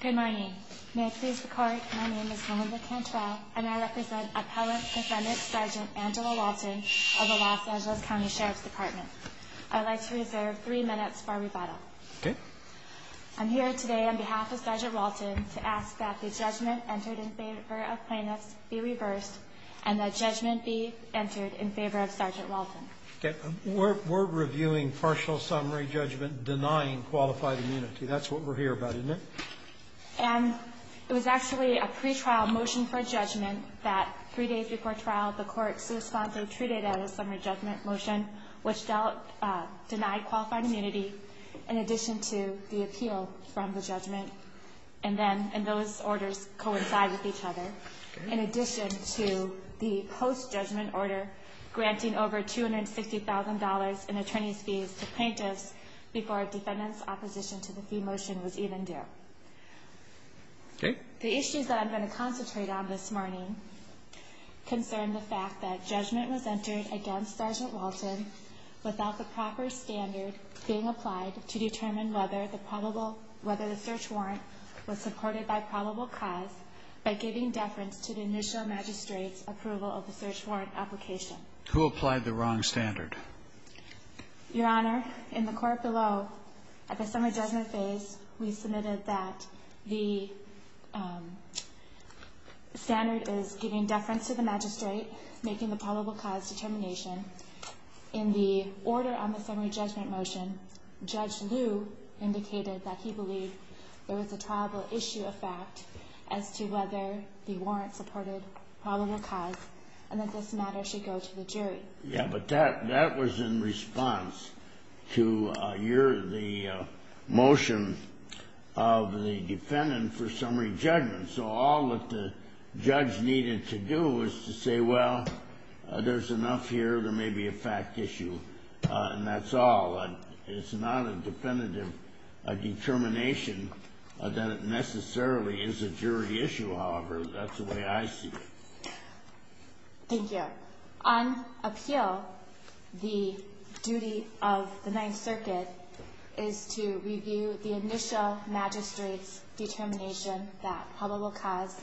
Good morning. May I please record my name is Melinda Cantrell and I represent Appellant Defendant Sgt. Angela Walton of the Los Angeles County Sheriff's Department. I'd like to reserve three minutes for rebuttal. I'm here today on behalf of Sgt. Walton to ask that the judgment entered in favor of plaintiffs be reversed and that judgment be entered in favor of Sgt. Walton. We're reviewing partial summary judgment denying qualified immunity. That's what we're here about, isn't it? And it was actually a pre-trial motion for judgment that three days before trial the court's response was treated as a summary judgment motion which denied qualified immunity in addition to the appeal from the judgment. And then those orders coincide with each other in addition to the post-judgment order granting over $250,000 in attorney's fees to plaintiffs before defendant's opposition to the fee motion was even due. The issues that I'm going to concentrate on this morning concern the fact that judgment was entered against Sgt. Walton without the proper standard being applied to determine whether the probable whether the search warrant was supported by probable cause by giving deference to the initial magistrate's approval of the search warrant application. Who applied the wrong standard? Your Honor, in the court below at the summary judgment phase we submitted that the standard is giving deference to the magistrate making the probable cause determination. In the order on the summary judgment motion, Judge Liu indicated that he believed there was a trialable issue of fact as to whether the warrant supported probable cause and that this matter should go to the jury. Yeah, but that was in response to the motion of the defendant for summary judgment. So all that the judge needed to do was to say, well, there's enough here. There may be a fact issue. And that's all. It's not a definitive determination that it necessarily is a jury issue. However, that's the way I see it. Thank you. Your Honor, on appeal, the duty of the Ninth Circuit is to review the initial magistrate's determination that probable cause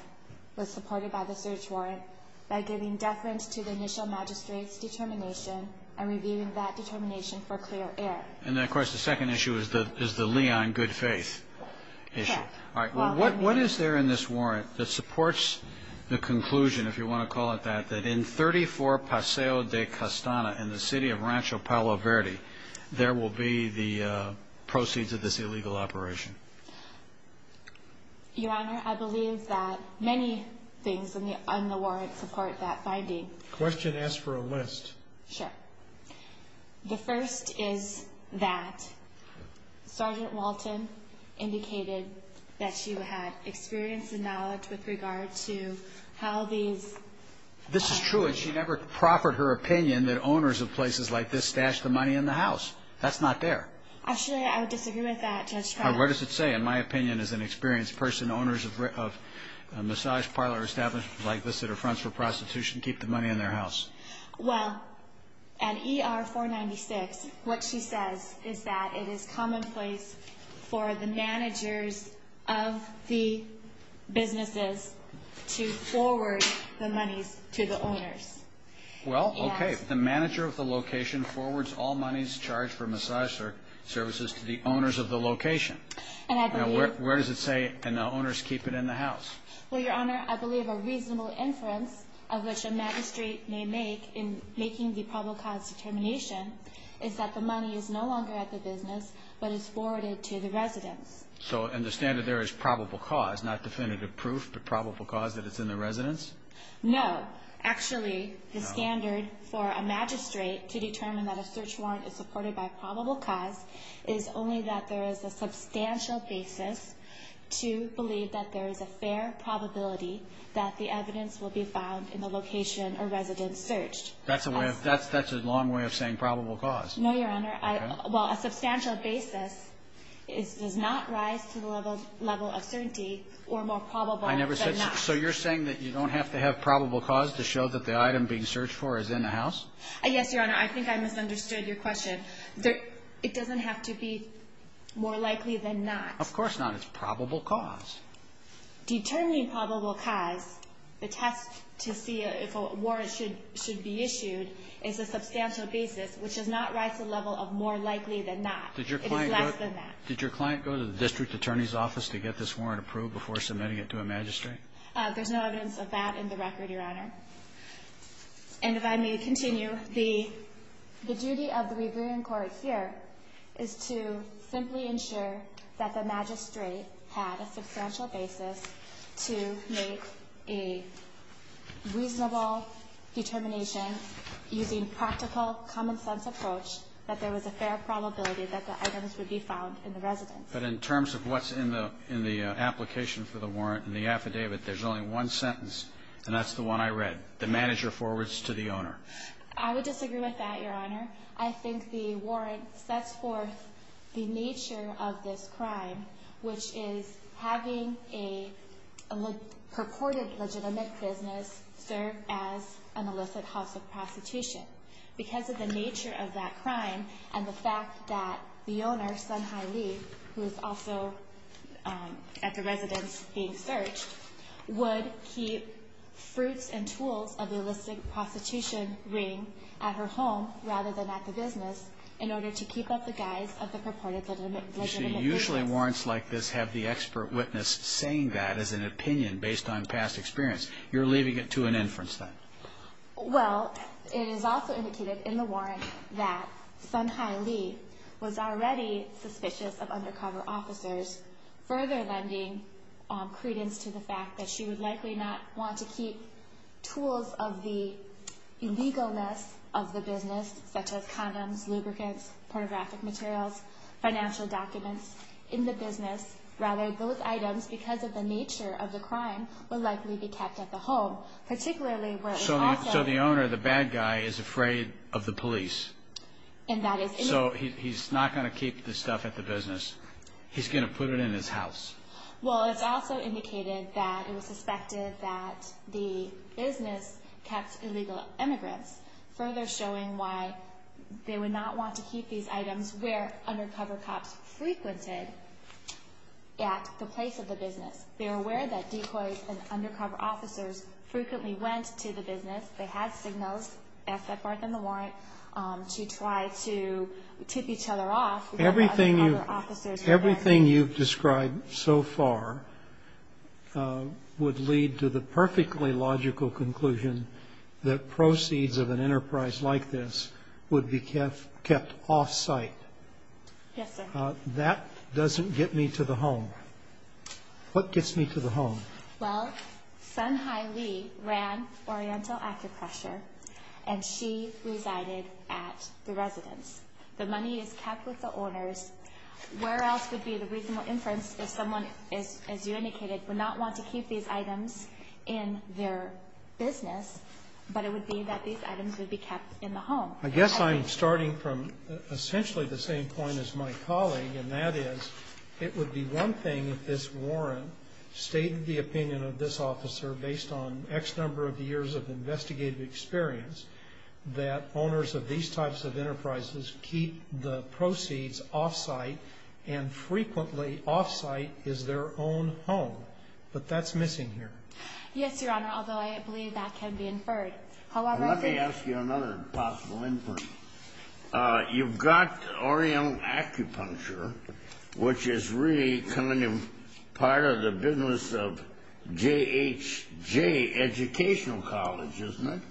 was supported by the search warrant by giving deference to the initial magistrate's determination and reviewing that determination for clear error. And, of course, the second issue is the Leon good faith issue. All right. What is there in this warrant that supports the conclusion, if you want to call it that, that in 34 Paseo de Castana in the city of Rancho Palo Verde, there will be the proceeds of this illegal operation? Your Honor, I believe that many things on the warrant support that finding. Question asked for a list. Sure. The first is that Sergeant Walton indicated that she had experience and knowledge with regard to how these. This is true. And she never proffered her opinion that owners of places like this stash the money in the house. That's not there. Actually, I would disagree with that. What does it say? In my opinion, as an experienced person, owners of a massage parlor established like this that are fronts for prostitution, keep the money in their house. Well, at E.R. 496, what she says is that it is commonplace for the managers of the businesses to forward the monies to the owners. Well, OK. The manager of the location forwards all monies charged for massage services to the owners of the location. And where does it say and the owners keep it in the house? Well, Your Honor, I believe a reasonable inference of which a magistrate may make in making the probable cause determination is that the money is no longer at the business but is forwarded to the residence. So, and the standard there is probable cause, not definitive proof, but probable cause that it's in the residence? No. Actually, the standard for a magistrate to determine that a search warrant is supported by probable cause is only that there is a substantial basis to believe that there is a fair probability that the evidence will be found in the location or residence searched. That's a long way of saying probable cause. No, Your Honor. Well, a substantial basis does not rise to the level of certainty or more probable than not. So you're saying that you don't have to have probable cause to show that the item being searched for is in the house? Yes, Your Honor. I think I misunderstood your question. It doesn't have to be more likely than not. Of course not. It's probable cause. Determining probable cause, the test to see if a warrant should be issued, is a substantial basis, which does not rise to the level of more likely than not. It is less than that. Did your client go to the district attorney's office to get this warrant approved before submitting it to a magistrate? There's no evidence of that in the record, Your Honor. And if I may continue, the duty of the Reverend Court here is to simply ensure that the magistrate had a substantial basis to make a reasonable determination using practical, common-sense approach that there was a fair probability that the items would be found in the residence. But in terms of what's in the application for the warrant and the affidavit, there's only one sentence, and that's the one I read. The manager forwards to the owner. I would disagree with that, Your Honor. I think the warrant sets forth the nature of this crime, which is having a purported legitimate business serve as an illicit house of prostitution. Because of the nature of that crime and the fact that the owner, Sun Hai Lee, who is also at the residence being searched, would keep fruits and tools of the illicit prostitution ring at her home rather than at the business in order to keep up the guise of the purported legitimate business. Usually warrants like this have the expert witness saying that as an opinion based on past experience. You're leaving it to an inference, then. Well, it is also indicated in the warrant that Sun Hai Lee was already suspicious of undercover officers, further lending credence to the fact that she would likely not want to keep tools of the illegalness of the business, such as condoms, lubricants, pornographic materials, financial documents, in the business. Rather, those items, because of the nature of the crime, would likely be kept at the home, particularly where it was also... So the owner, the bad guy, is afraid of the police. And that is... So he's not going to keep the stuff at the business. He's going to put it in his house. Well, it's also indicated that it was suspected that the business kept illegal immigrants, further showing why they would not want to keep these items where undercover cops frequented at the place of the business. They are aware that decoys and undercover officers frequently went to the business. They had signals, as set forth in the warrant, to try to tip each other off. Everything you've described so far would lead to the perfectly logical conclusion that proceeds of an enterprise like this would be kept off-site. Yes, sir. That doesn't get me to the home. What gets me to the home? Well, Sun Hai Lee ran Oriental Acupressure, and she resided at the residence. The money is kept with the owners. Where else would be the reasonable inference if someone, as you indicated, would not want to keep these items in their business, but it would be that these items would be kept in the home? I guess I'm starting from essentially the same point as my colleague, and that is it would be one thing if this warrant stated the opinion of this officer, based on X number of years of investigative experience, that owners of these types of enterprises keep the proceeds off-site, and frequently off-site is their own home. But that's missing here. Yes, Your Honor, although I believe that can be inferred. Let me ask you another possible inference. You've got Oriental Acupuncture, which is really coming in part of the business of J.H.J. Educational College, isn't it?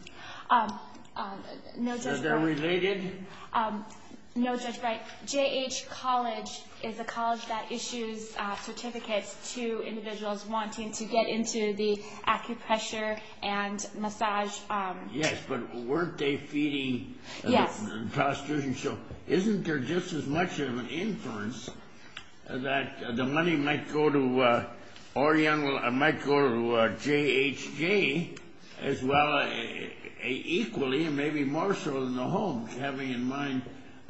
No, Judge Breyer. Is that related? No, Judge Breyer. J.H. College is a college that issues certificates to individuals wanting to get into the acupressure and massage. Yes, but weren't they feeding prostitution? So isn't there just as much of an inference that the money might go to J.H.J. as well, equally, and maybe more so than the home, having in mind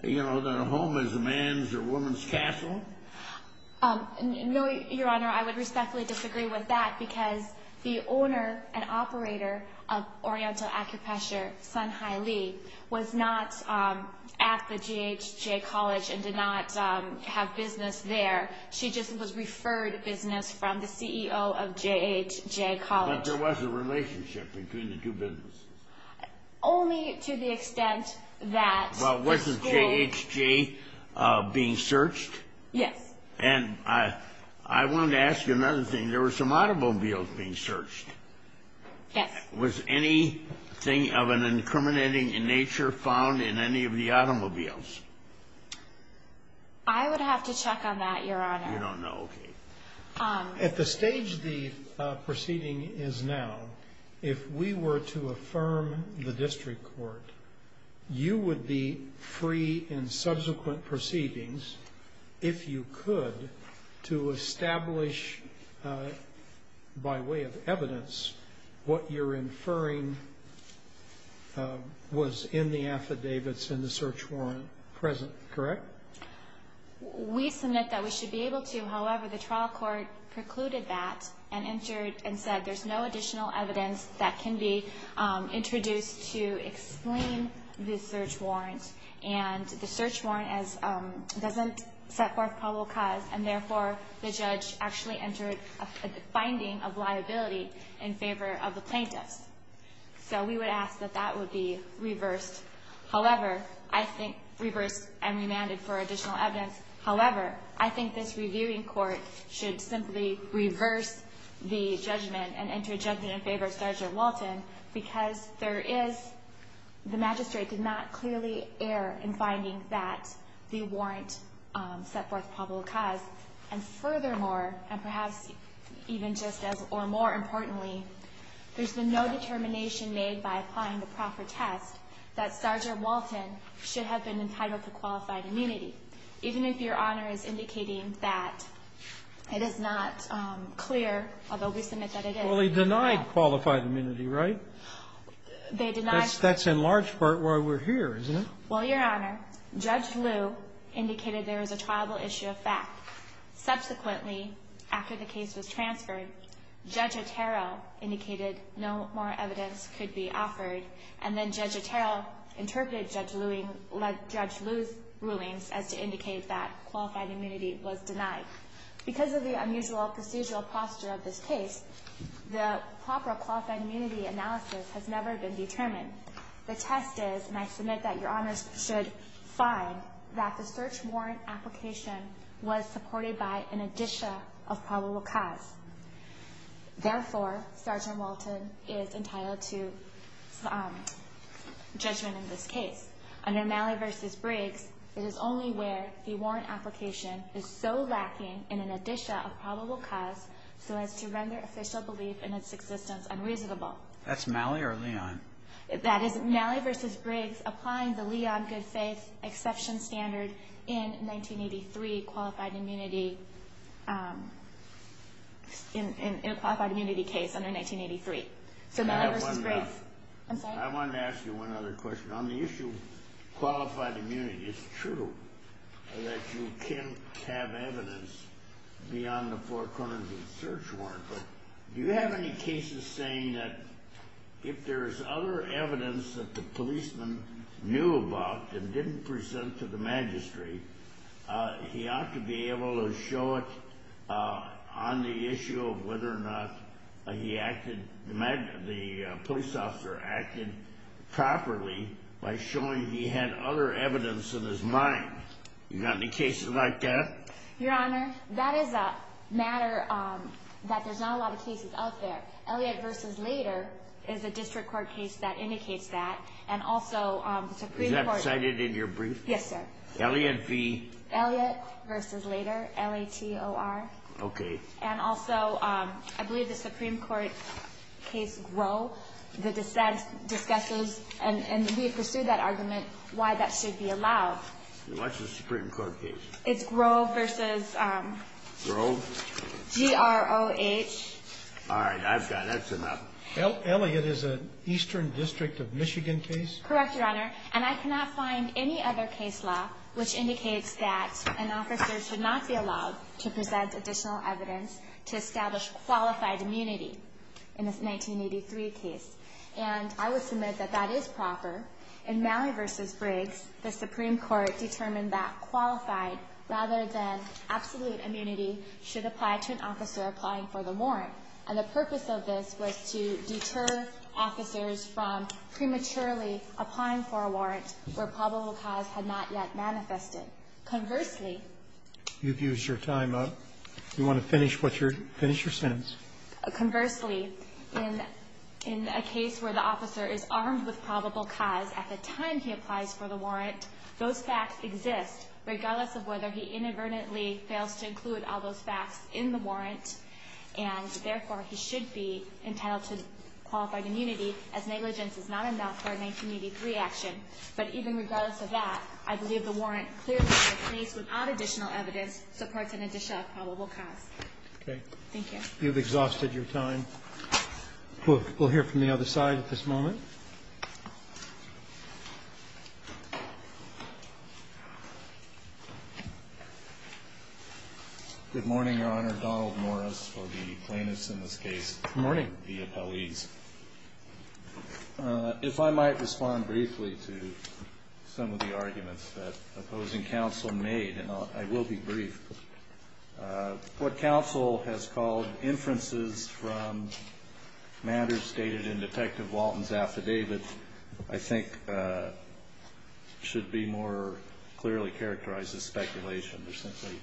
that a home is a man's or a woman's castle? No, Your Honor, I would respectfully disagree with that, because the owner and operator of Oriental Acupressure, Sun Hai Lee, was not at the J.H.J. College and did not have business there. She just was referred business from the CEO of J.H.J. College. But there was a relationship between the two businesses? Only to the extent that the school... Well, wasn't J.H.J. being searched? Yes. And I wanted to ask you another thing. There were some automobiles being searched. Yes. Was anything of an incriminating nature found in any of the automobiles? I would have to check on that, Your Honor. You don't know? Okay. At the stage the proceeding is now, if we were to affirm the district court, you would be free in subsequent proceedings, if you could, to establish by way of evidence what you're inferring was in the affidavits in the search warrant present, correct? We submit that we should be able to. However, the trial court precluded that and entered and said there's no additional evidence that can be introduced to explain the search warrant. And the search warrant doesn't set forth probable cause, and therefore the judge actually entered a finding of liability in favor of the plaintiffs. So we would ask that that would be reversed. However, I think... reversed and remanded for additional evidence. However, I think this reviewing court should simply reverse the judgment and enter judgment in favor of Sergeant Walton because there is... the magistrate did not clearly err in finding that the warrant set forth probable cause. And furthermore, and perhaps even just as or more importantly, there's been no determination made by applying the proffer test that Sergeant Walton should have been entitled to qualified immunity. Even if Your Honor is indicating that it is not clear, although we submit that it is... Well, he denied qualified immunity, right? They denied... That's in large part why we're here, isn't it? Well, Your Honor, Judge Lew indicated there was a triable issue of fact. Subsequently, after the case was transferred, Judge Otero indicated no more evidence could be offered, and then Judge Otero interpreted Judge Lew's rulings as being true. That was to indicate that qualified immunity was denied. Because of the unusual procedural posture of this case, the proper qualified immunity analysis has never been determined. The test is, and I submit that Your Honors should find, that the search warrant application was supported by an addition of probable cause. Therefore, Sergeant Walton is entitled to judgment in this case. Under Malley v. Briggs, it is only where the warrant application is so lacking in an addition of probable cause so as to render official belief in its existence unreasonable. That's Malley or Leon? That is Malley v. Briggs applying the Leon good faith exception standard in 1983 qualified immunity, in a qualified immunity case under 1983. So Malley v. Briggs... I have one more. I'm sorry? ...qualified immunity. It's true that you can't have evidence beyond the four corners of the search warrant, but do you have any cases saying that if there's other evidence that the policeman knew about and didn't present to the magistrate, he ought to be able to show it on the issue of whether or not the police officer acted properly by showing he had other evidence in his mind? You got any cases like that? Your Honor, that is a matter that there's not a lot of cases of there. Elliott v. Lader is a district court case that indicates that. And also... Is that cited in your brief? Yes, sir. Elliott v... Elliott v. Lader, L-A-T-O-R. Okay. And also, I believe the Supreme Court case Groh, the dissent discusses, and we have pursued that argument, why that should be allowed. What's the Supreme Court case? It's Groh v.... Groh? G-R-O-H. All right, I've got it. That's enough. Elliott is an Eastern District of Michigan case? Correct, Your Honor. And I cannot find any other case law which indicates that an officer should not be allowed to present additional evidence to establish qualified immunity in this 1983 case. And I would submit that that is proper. In Malley v. Briggs, the Supreme Court determined that qualified rather than absolute immunity should apply to an officer applying for the warrant. And the purpose of this was to deter officers from prematurely applying for a warrant where probable cause had not yet manifested. Conversely... You've used your time up. You want to finish what you're, finish your sentence. Conversely, in a case where the officer is armed with probable cause at the time he applies for the warrant, those facts exist, regardless of whether he inadvertently fails to include all those facts in the warrant, and therefore he should be entitled to qualified immunity as negligence is not enough for a 1983 action. But even regardless of that, I believe the warrant clearly in a case without additional evidence supports an addition of probable cause. Okay. Thank you. You've exhausted your time. We'll hear from the other side at this moment. Good morning, Your Honor. Donald Morris for the plaintiffs in this case. Good morning. The appellees. If I might respond briefly to some of the arguments that opposing counsel made, and I will be brief. What counsel has called inferences from matters stated in Detective Walton's affidavit I think should be more clearly characterized as speculation. There's simply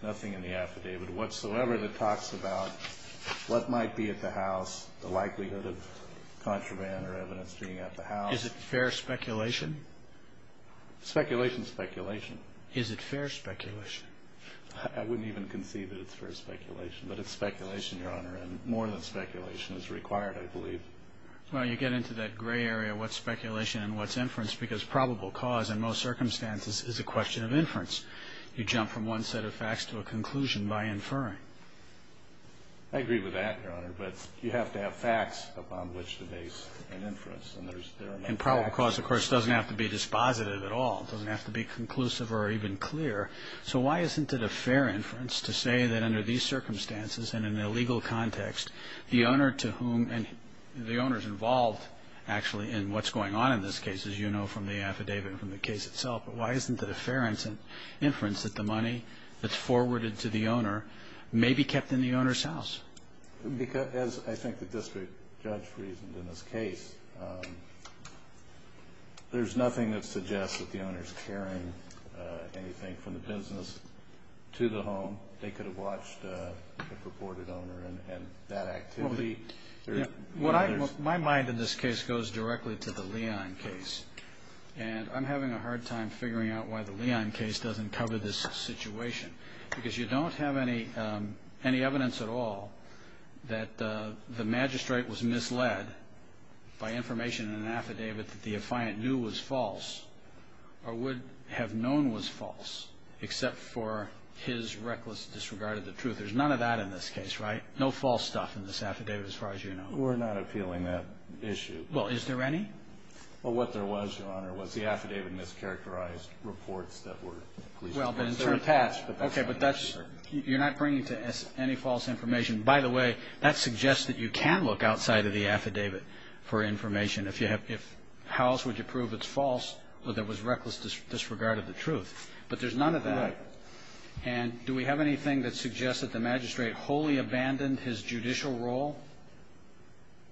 nothing in the affidavit whatsoever that talks about what might be at the house, the likelihood of contraband or evidence being at the house. Is it fair speculation? Speculation is speculation. Is it fair speculation? I wouldn't even conceive that it's fair speculation. But it's speculation, Your Honor, and more than speculation is required, I believe. Well, you get into that gray area, what's speculation and what's inference, because probable cause in most circumstances is a question of inference. You jump from one set of facts to a conclusion by inferring. I agree with that, Your Honor, but you have to have facts upon which to base an inference. And there are no facts. And probable cause, of course, doesn't have to be dispositive at all. It doesn't have to be conclusive or even clear. So why isn't it a fair inference to say that under these circumstances and in a legal context, the owner to whom the owner is involved actually in what's going on in this case, as you know from the affidavit and from the case itself, why isn't it a fair inference that the money that's forwarded to the owner may be kept in the owner's house? Because, as I think the district judge reasoned in this case, there's nothing that suggests that the owner is carrying anything from the business to the home. They could have watched the purported owner and that activity. My mind in this case goes directly to the Leon case. And I'm having a hard time figuring out why the Leon case doesn't cover this situation. Because you don't have any evidence at all that the magistrate was misled by information in an affidavit that the affiant knew was false or would have known was false except for his reckless disregard of the truth. There's none of that in this case, right? No false stuff in this affidavit as far as you know. We're not appealing that issue. Well, is there any? Well, what there was, Your Honor, was the affidavit mischaracterized reports that were attached. Okay, but you're not bringing to any false information. By the way, that suggests that you can look outside of the affidavit for information. How else would you prove it's false or there was reckless disregard of the truth? But there's none of that. Right. And do we have anything that suggests that the magistrate wholly abandoned his judicial role?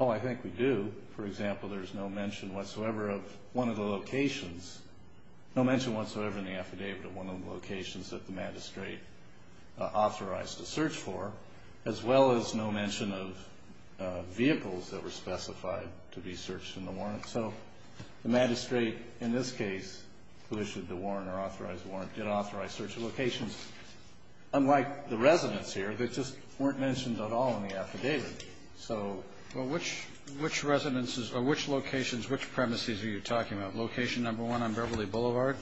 Oh, I think we do. For example, there's no mention whatsoever of one of the locations. No mention whatsoever in the affidavit of one of the locations that the magistrate authorized a search for, as well as no mention of vehicles that were specified to be searched in the warrant. So the magistrate in this case who issued the warrant or authorized the warrant did authorize search of locations, unlike the residents here that just weren't mentioned at all in the affidavit. Well, which locations, which premises are you talking about? Location number one on Beverly Boulevard?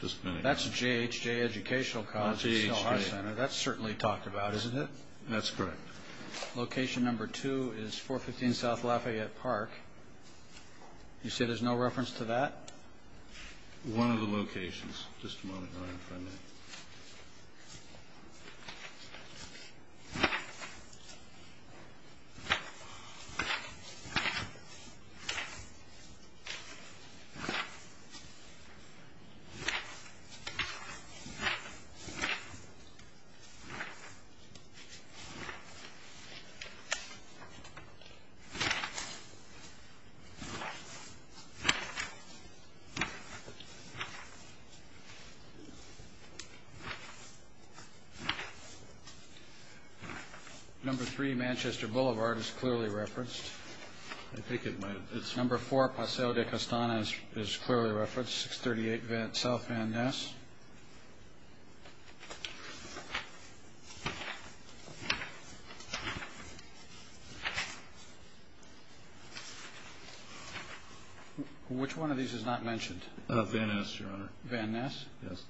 Just a minute. That's J.H.J. Educational College. J.H.J. That's certainly talked about, isn't it? That's correct. Location number two is 415 South Lafayette Park. You say there's no reference to that? One of the locations. Just a moment. All right. If I may. Number three, Manchester Boulevard is clearly referenced. I think it might have been. Number four, Paseo de Castanas is clearly referenced, 638 South Van Ness. Which one of these is not mentioned? Van Ness, Your Honor. Van Ness? Yes.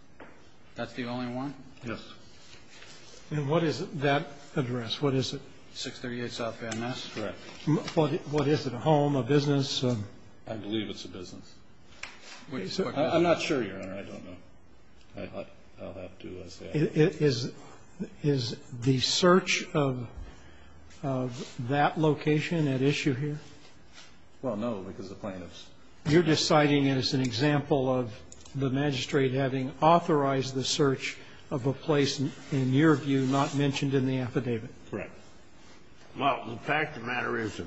That's the only one? Yes. And what is that address? What is it? 638 South Van Ness? Correct. What is it, a home, a business? I believe it's a business. I'm not sure, Your Honor. I don't know. I'll have to say I don't know. Is the search of that location at issue here? Well, no, because the plaintiffs. You're deciding it as an example of the magistrate having authorized the search of a place, in your view, not mentioned in the affidavit. Correct. Well, the fact of the matter is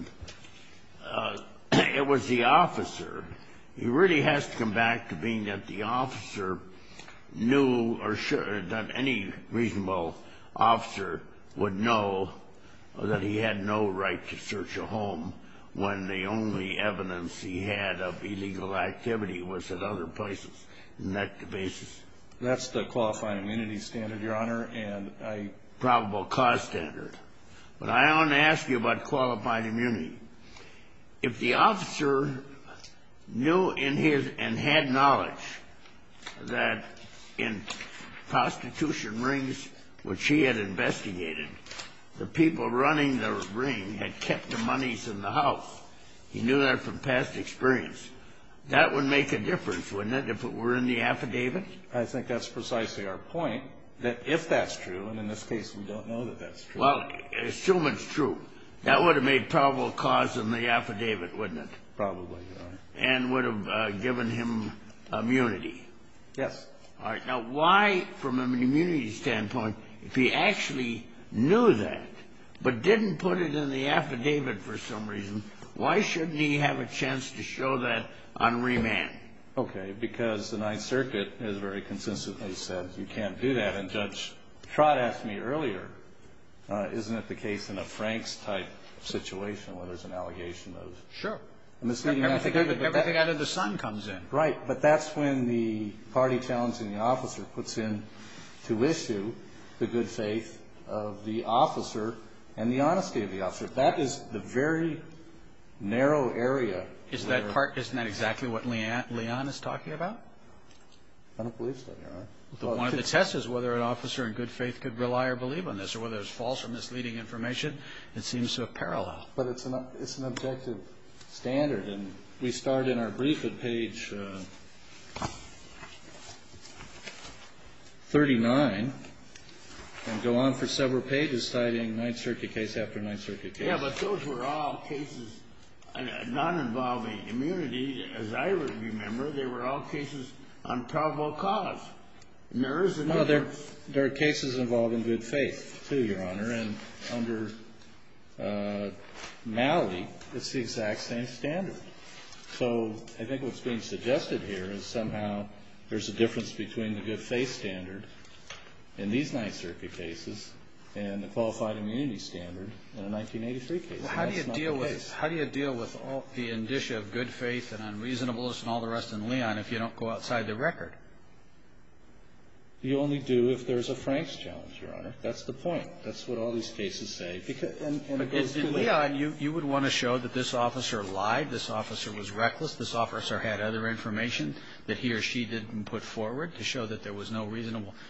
it was the officer. He really has to come back to being that the officer knew or that any reasonable officer would know that he had no right to search a home when the only evidence he had of illegal activity was at other places. Isn't that the basis? That's the qualifying immunity standard, Your Honor, and a probable cause standard. But I want to ask you about qualifying immunity. If the officer knew and had knowledge that in prostitution rings, which he had investigated, the people running the ring had kept the monies in the house. He knew that from past experience. That would make a difference, wouldn't it, if it were in the affidavit? I think that's precisely our point, that if that's true, and in this case we don't know that that's true. Well, assume it's true. That would have made probable cause in the affidavit, wouldn't it? Probably, Your Honor. And would have given him immunity. Yes. All right. Now, why, from an immunity standpoint, if he actually knew that but didn't put it in the affidavit for some reason, why shouldn't he have a chance to show that on remand? Okay, because the Ninth Circuit has very consistently said you can't do that. And Judge Trott asked me earlier, isn't it the case in a Franks-type situation where there's an allegation of misleading affidavit? Sure. Everything out of the sun comes in. Right. But that's when the party challenging the officer puts in to issue the good faith of the officer and the honesty of the officer. That is the very narrow area. Isn't that exactly what Leon is talking about? I don't believe so, Your Honor. One of the tests is whether an officer in good faith could rely or believe on this or whether it's false or misleading information. It seems to have parallel. But it's an objective standard. And we start in our brief at page 39 and go on for several pages citing Ninth Circuit case after Ninth Circuit case. Yeah, but those were all cases not involving immunity, as I remember. They were all cases on probable cause. There are cases involving good faith, too, Your Honor. And under Malley, it's the exact same standard. So I think what's being suggested here is somehow there's a difference between the good faith standard in these Ninth Circuit cases and the qualified immunity standard in a 1983 case. How do you deal with the indicia of good faith and unreasonableness and all the rest in Leon if you don't go outside the record? You only do if there's a Franks challenge, Your Honor. That's the point. That's what all these cases say. But in Leon, you would want to show that this officer lied, this officer was reckless, this officer had other information that he or she didn't put forward to show that there was no reasonable –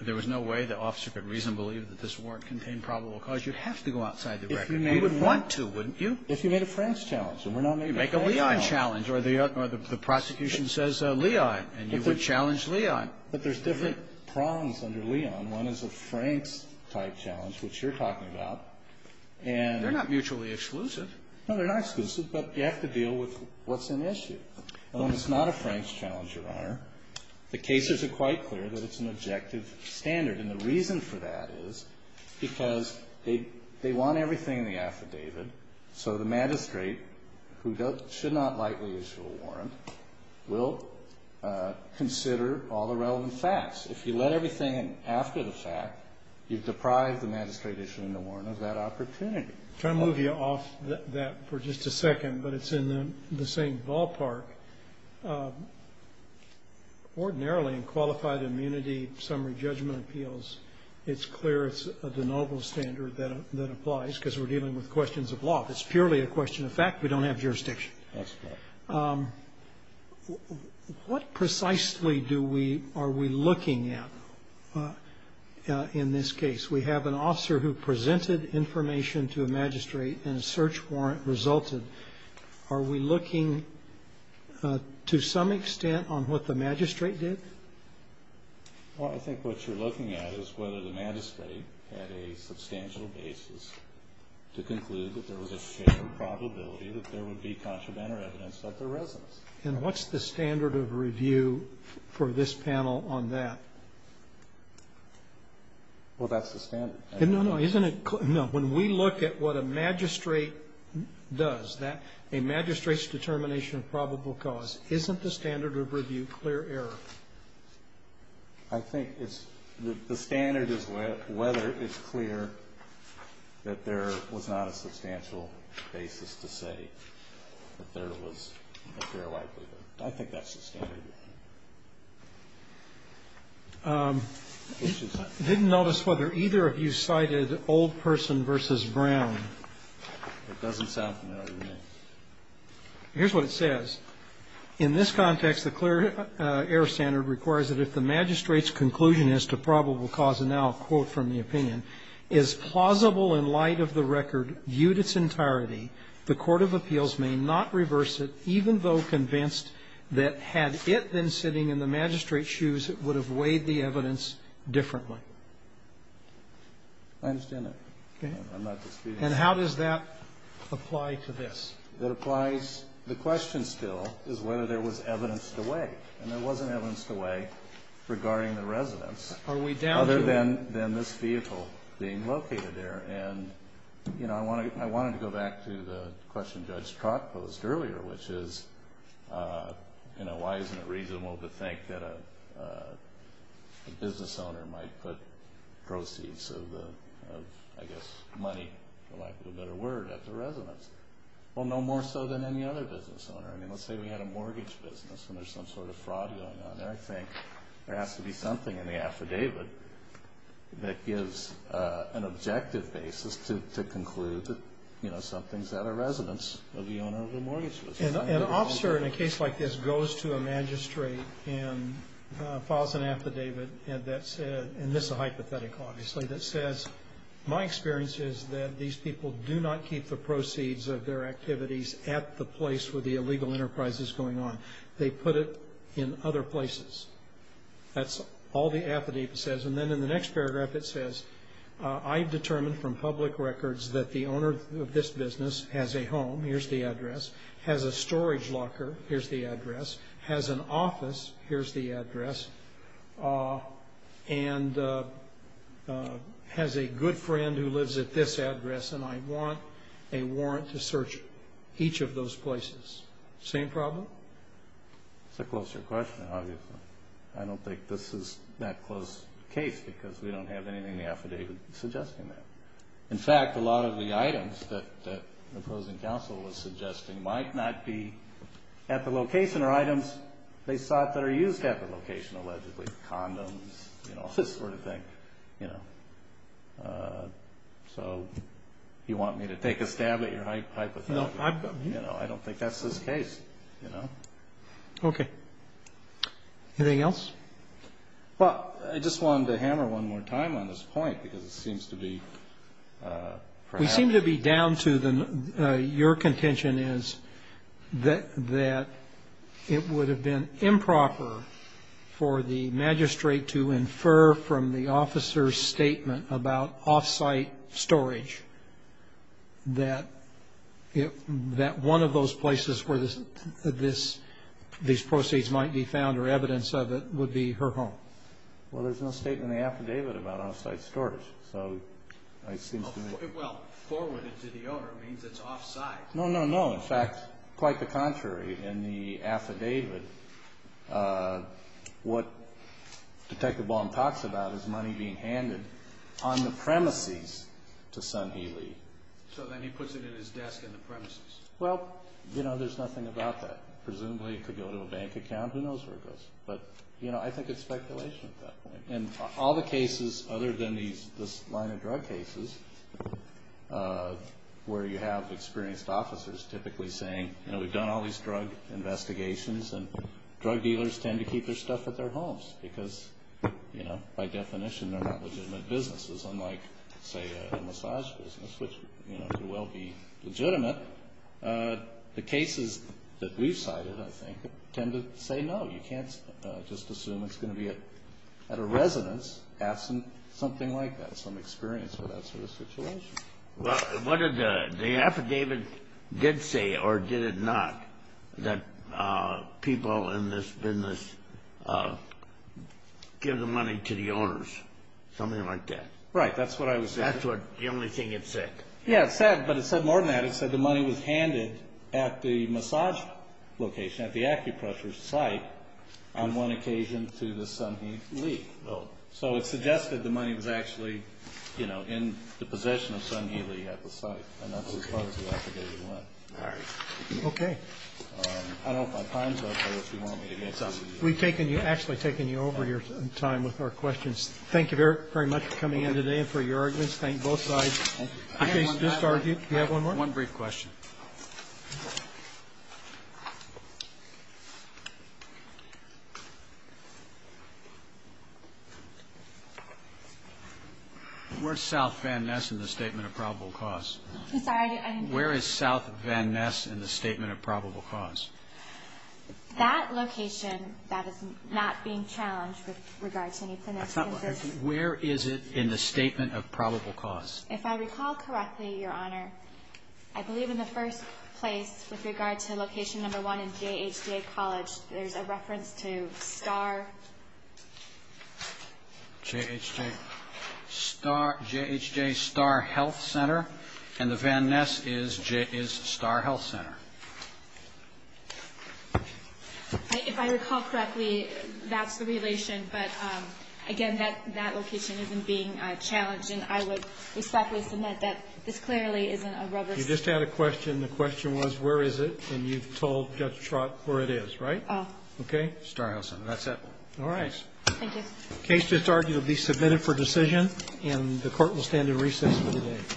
there was no way the officer could reasonably believe that this warrant contained probable cause. You'd have to go outside the record. You would want to, wouldn't you? If you made a Franks challenge. Make a Leon challenge or the prosecution says Leon and you would challenge Leon. But there's different prongs under Leon. One is a Franks-type challenge, which you're talking about, and – They're not mutually exclusive. No, they're not exclusive, but you have to deal with what's an issue. And when it's not a Franks challenge, Your Honor, the cases are quite clear that it's an objective standard. And the reason for that is because they want everything in the affidavit. So the magistrate, who should not likely issue a warrant, will consider all the relevant facts. If you let everything in after the fact, you've deprived the magistrate issuing the warrant of that opportunity. I'm trying to move you off that for just a second, but it's in the same ballpark. Ordinarily, in qualified immunity summary judgment appeals, it's clear it's the noble standard that applies because we're dealing with questions of law. If it's purely a question of fact, we don't have jurisdiction. That's correct. What precisely are we looking at in this case? We have an officer who presented information to a magistrate and a search warrant resulted. Are we looking, to some extent, on what the magistrate did? Well, I think what you're looking at is whether the magistrate had a substantial basis to conclude that there was a fair probability that there would be contraband or evidence that there wasn't. And what's the standard of review for this panel on that? Well, that's the standard. No, no. Isn't it clear? No. When we look at what a magistrate does, a magistrate's determination of probable cause, isn't the standard of review clear error? I think the standard is whether it's clear that there was not a substantial basis to say that there was a fair likelihood. I think that's the standard. I didn't notice whether either of you cited old person versus Brown. It doesn't sound familiar to me. Here's what it says. In this context, the clear error standard requires that if the magistrate's conclusion as to probable cause, and now a quote from the opinion, is plausible in light of the record viewed its entirety, the court of appeals may not reverse it even though convinced that had it been sitting in the magistrate's shoes, it would have weighed the evidence differently. I understand that. Okay. I'm not disputing that. And how does that apply to this? The question still is whether there was evidence to weigh, and there wasn't evidence to weigh regarding the residence other than this vehicle being located there. I wanted to go back to the question Judge Trock posed earlier, which is, why isn't it reasonable to think that a business owner might put proceeds of, I guess, money, for lack of a better word, at the residence? Well, no more so than any other business owner. I mean, let's say we had a mortgage business and there's some sort of fraud going on there. I think there has to be something in the affidavit that gives an objective basis to conclude that something's at a residence of the owner of the mortgage business. An officer in a case like this goes to a magistrate and files an affidavit, and this is a hypothetical, obviously, that says, my experience is that these people do not keep the proceeds of their activities at the place where the illegal enterprise is going on. They put it in other places. That's all the affidavit says. And then in the next paragraph it says, I've determined from public records that the owner of this business has a home, here's the address, has a storage locker, here's the address, has an office, here's the address, and has a good friend who lives at this address, and I want a warrant to search each of those places. Same problem? That's a closer question, obviously. I don't think this is that close a case because we don't have anything in the affidavit suggesting that. In fact, a lot of the items that the opposing counsel was suggesting might not be at the location or items they sought that are used at the location, allegedly, condoms, you know, this sort of thing, you know. So you want me to take a stab at your hypothetical? No. You know, I don't think that's this case, you know. Okay. Anything else? Well, I just wanted to hammer one more time on this point because it seems to be perhaps. What we seem to be down to, your contention is, that it would have been improper for the magistrate to infer from the officer's statement about off-site storage that one of those places where these proceeds might be found or evidence of it would be her home. Well, there's no statement in the affidavit about off-site storage. So it seems to me. Well, forwarded to the owner means it's off-site. No, no, no. In fact, quite the contrary. In the affidavit, what Detective Baum talks about is money being handed on the premises to Son Healy. So then he puts it in his desk in the premises. Well, you know, there's nothing about that. Presumably it could go to a bank account. Who knows where it goes? But, you know, I think it's speculation at that point. And all the cases other than this line of drug cases where you have experienced officers typically saying, you know, we've done all these drug investigations, and drug dealers tend to keep their stuff at their homes because, you know, by definition they're not legitimate businesses, unlike, say, a massage business, which, you know, could well be legitimate. The cases that we've cited, I think, tend to say no. You can't just assume it's going to be at a residence absent something like that, some experience with that sort of situation. Well, what did the affidavit did say, or did it not, that people in this business give the money to the owners, something like that? Right. That's what I was saying. That's what the only thing it said. Yeah, it said, but it said more than that. It said the money was handed at the massage location, at the acupressure site, on one occasion to the Sun Hee Lee. So it suggested the money was actually, you know, in the possession of Sun Hee Lee at the site. And that's as far as the affidavit went. All right. Okay. I don't have my times up, but if you want me to get something. We've taken you, actually taken you over your time with our questions. Thank you very much for coming in today and for your arguments. Thank both sides. Just argue. Do you have one more? One brief question. Where is South Van Ness in the Statement of Probable Cause? I'm sorry, I didn't hear you. Where is South Van Ness in the Statement of Probable Cause? That location, that is not being challenged with regard to any financial interest. Where is it in the Statement of Probable Cause? If I recall correctly, Your Honor, I believe in the first place with regard to location number one in J.H.J. College, there's a reference to Star. J.H.J. Star Health Center. And the Van Ness is Star Health Center. If I recall correctly, that's the relation. But, again, that location isn't being challenged. And I would respectfully submit that this clearly isn't a rubber stamp. You just had a question. The question was, where is it? And you've told Judge Trott where it is, right? Oh. Okay. Star Health Center. That's it. All right. Thank you. Case just argued will be submitted for decision, and the Court will stand in recess for the day.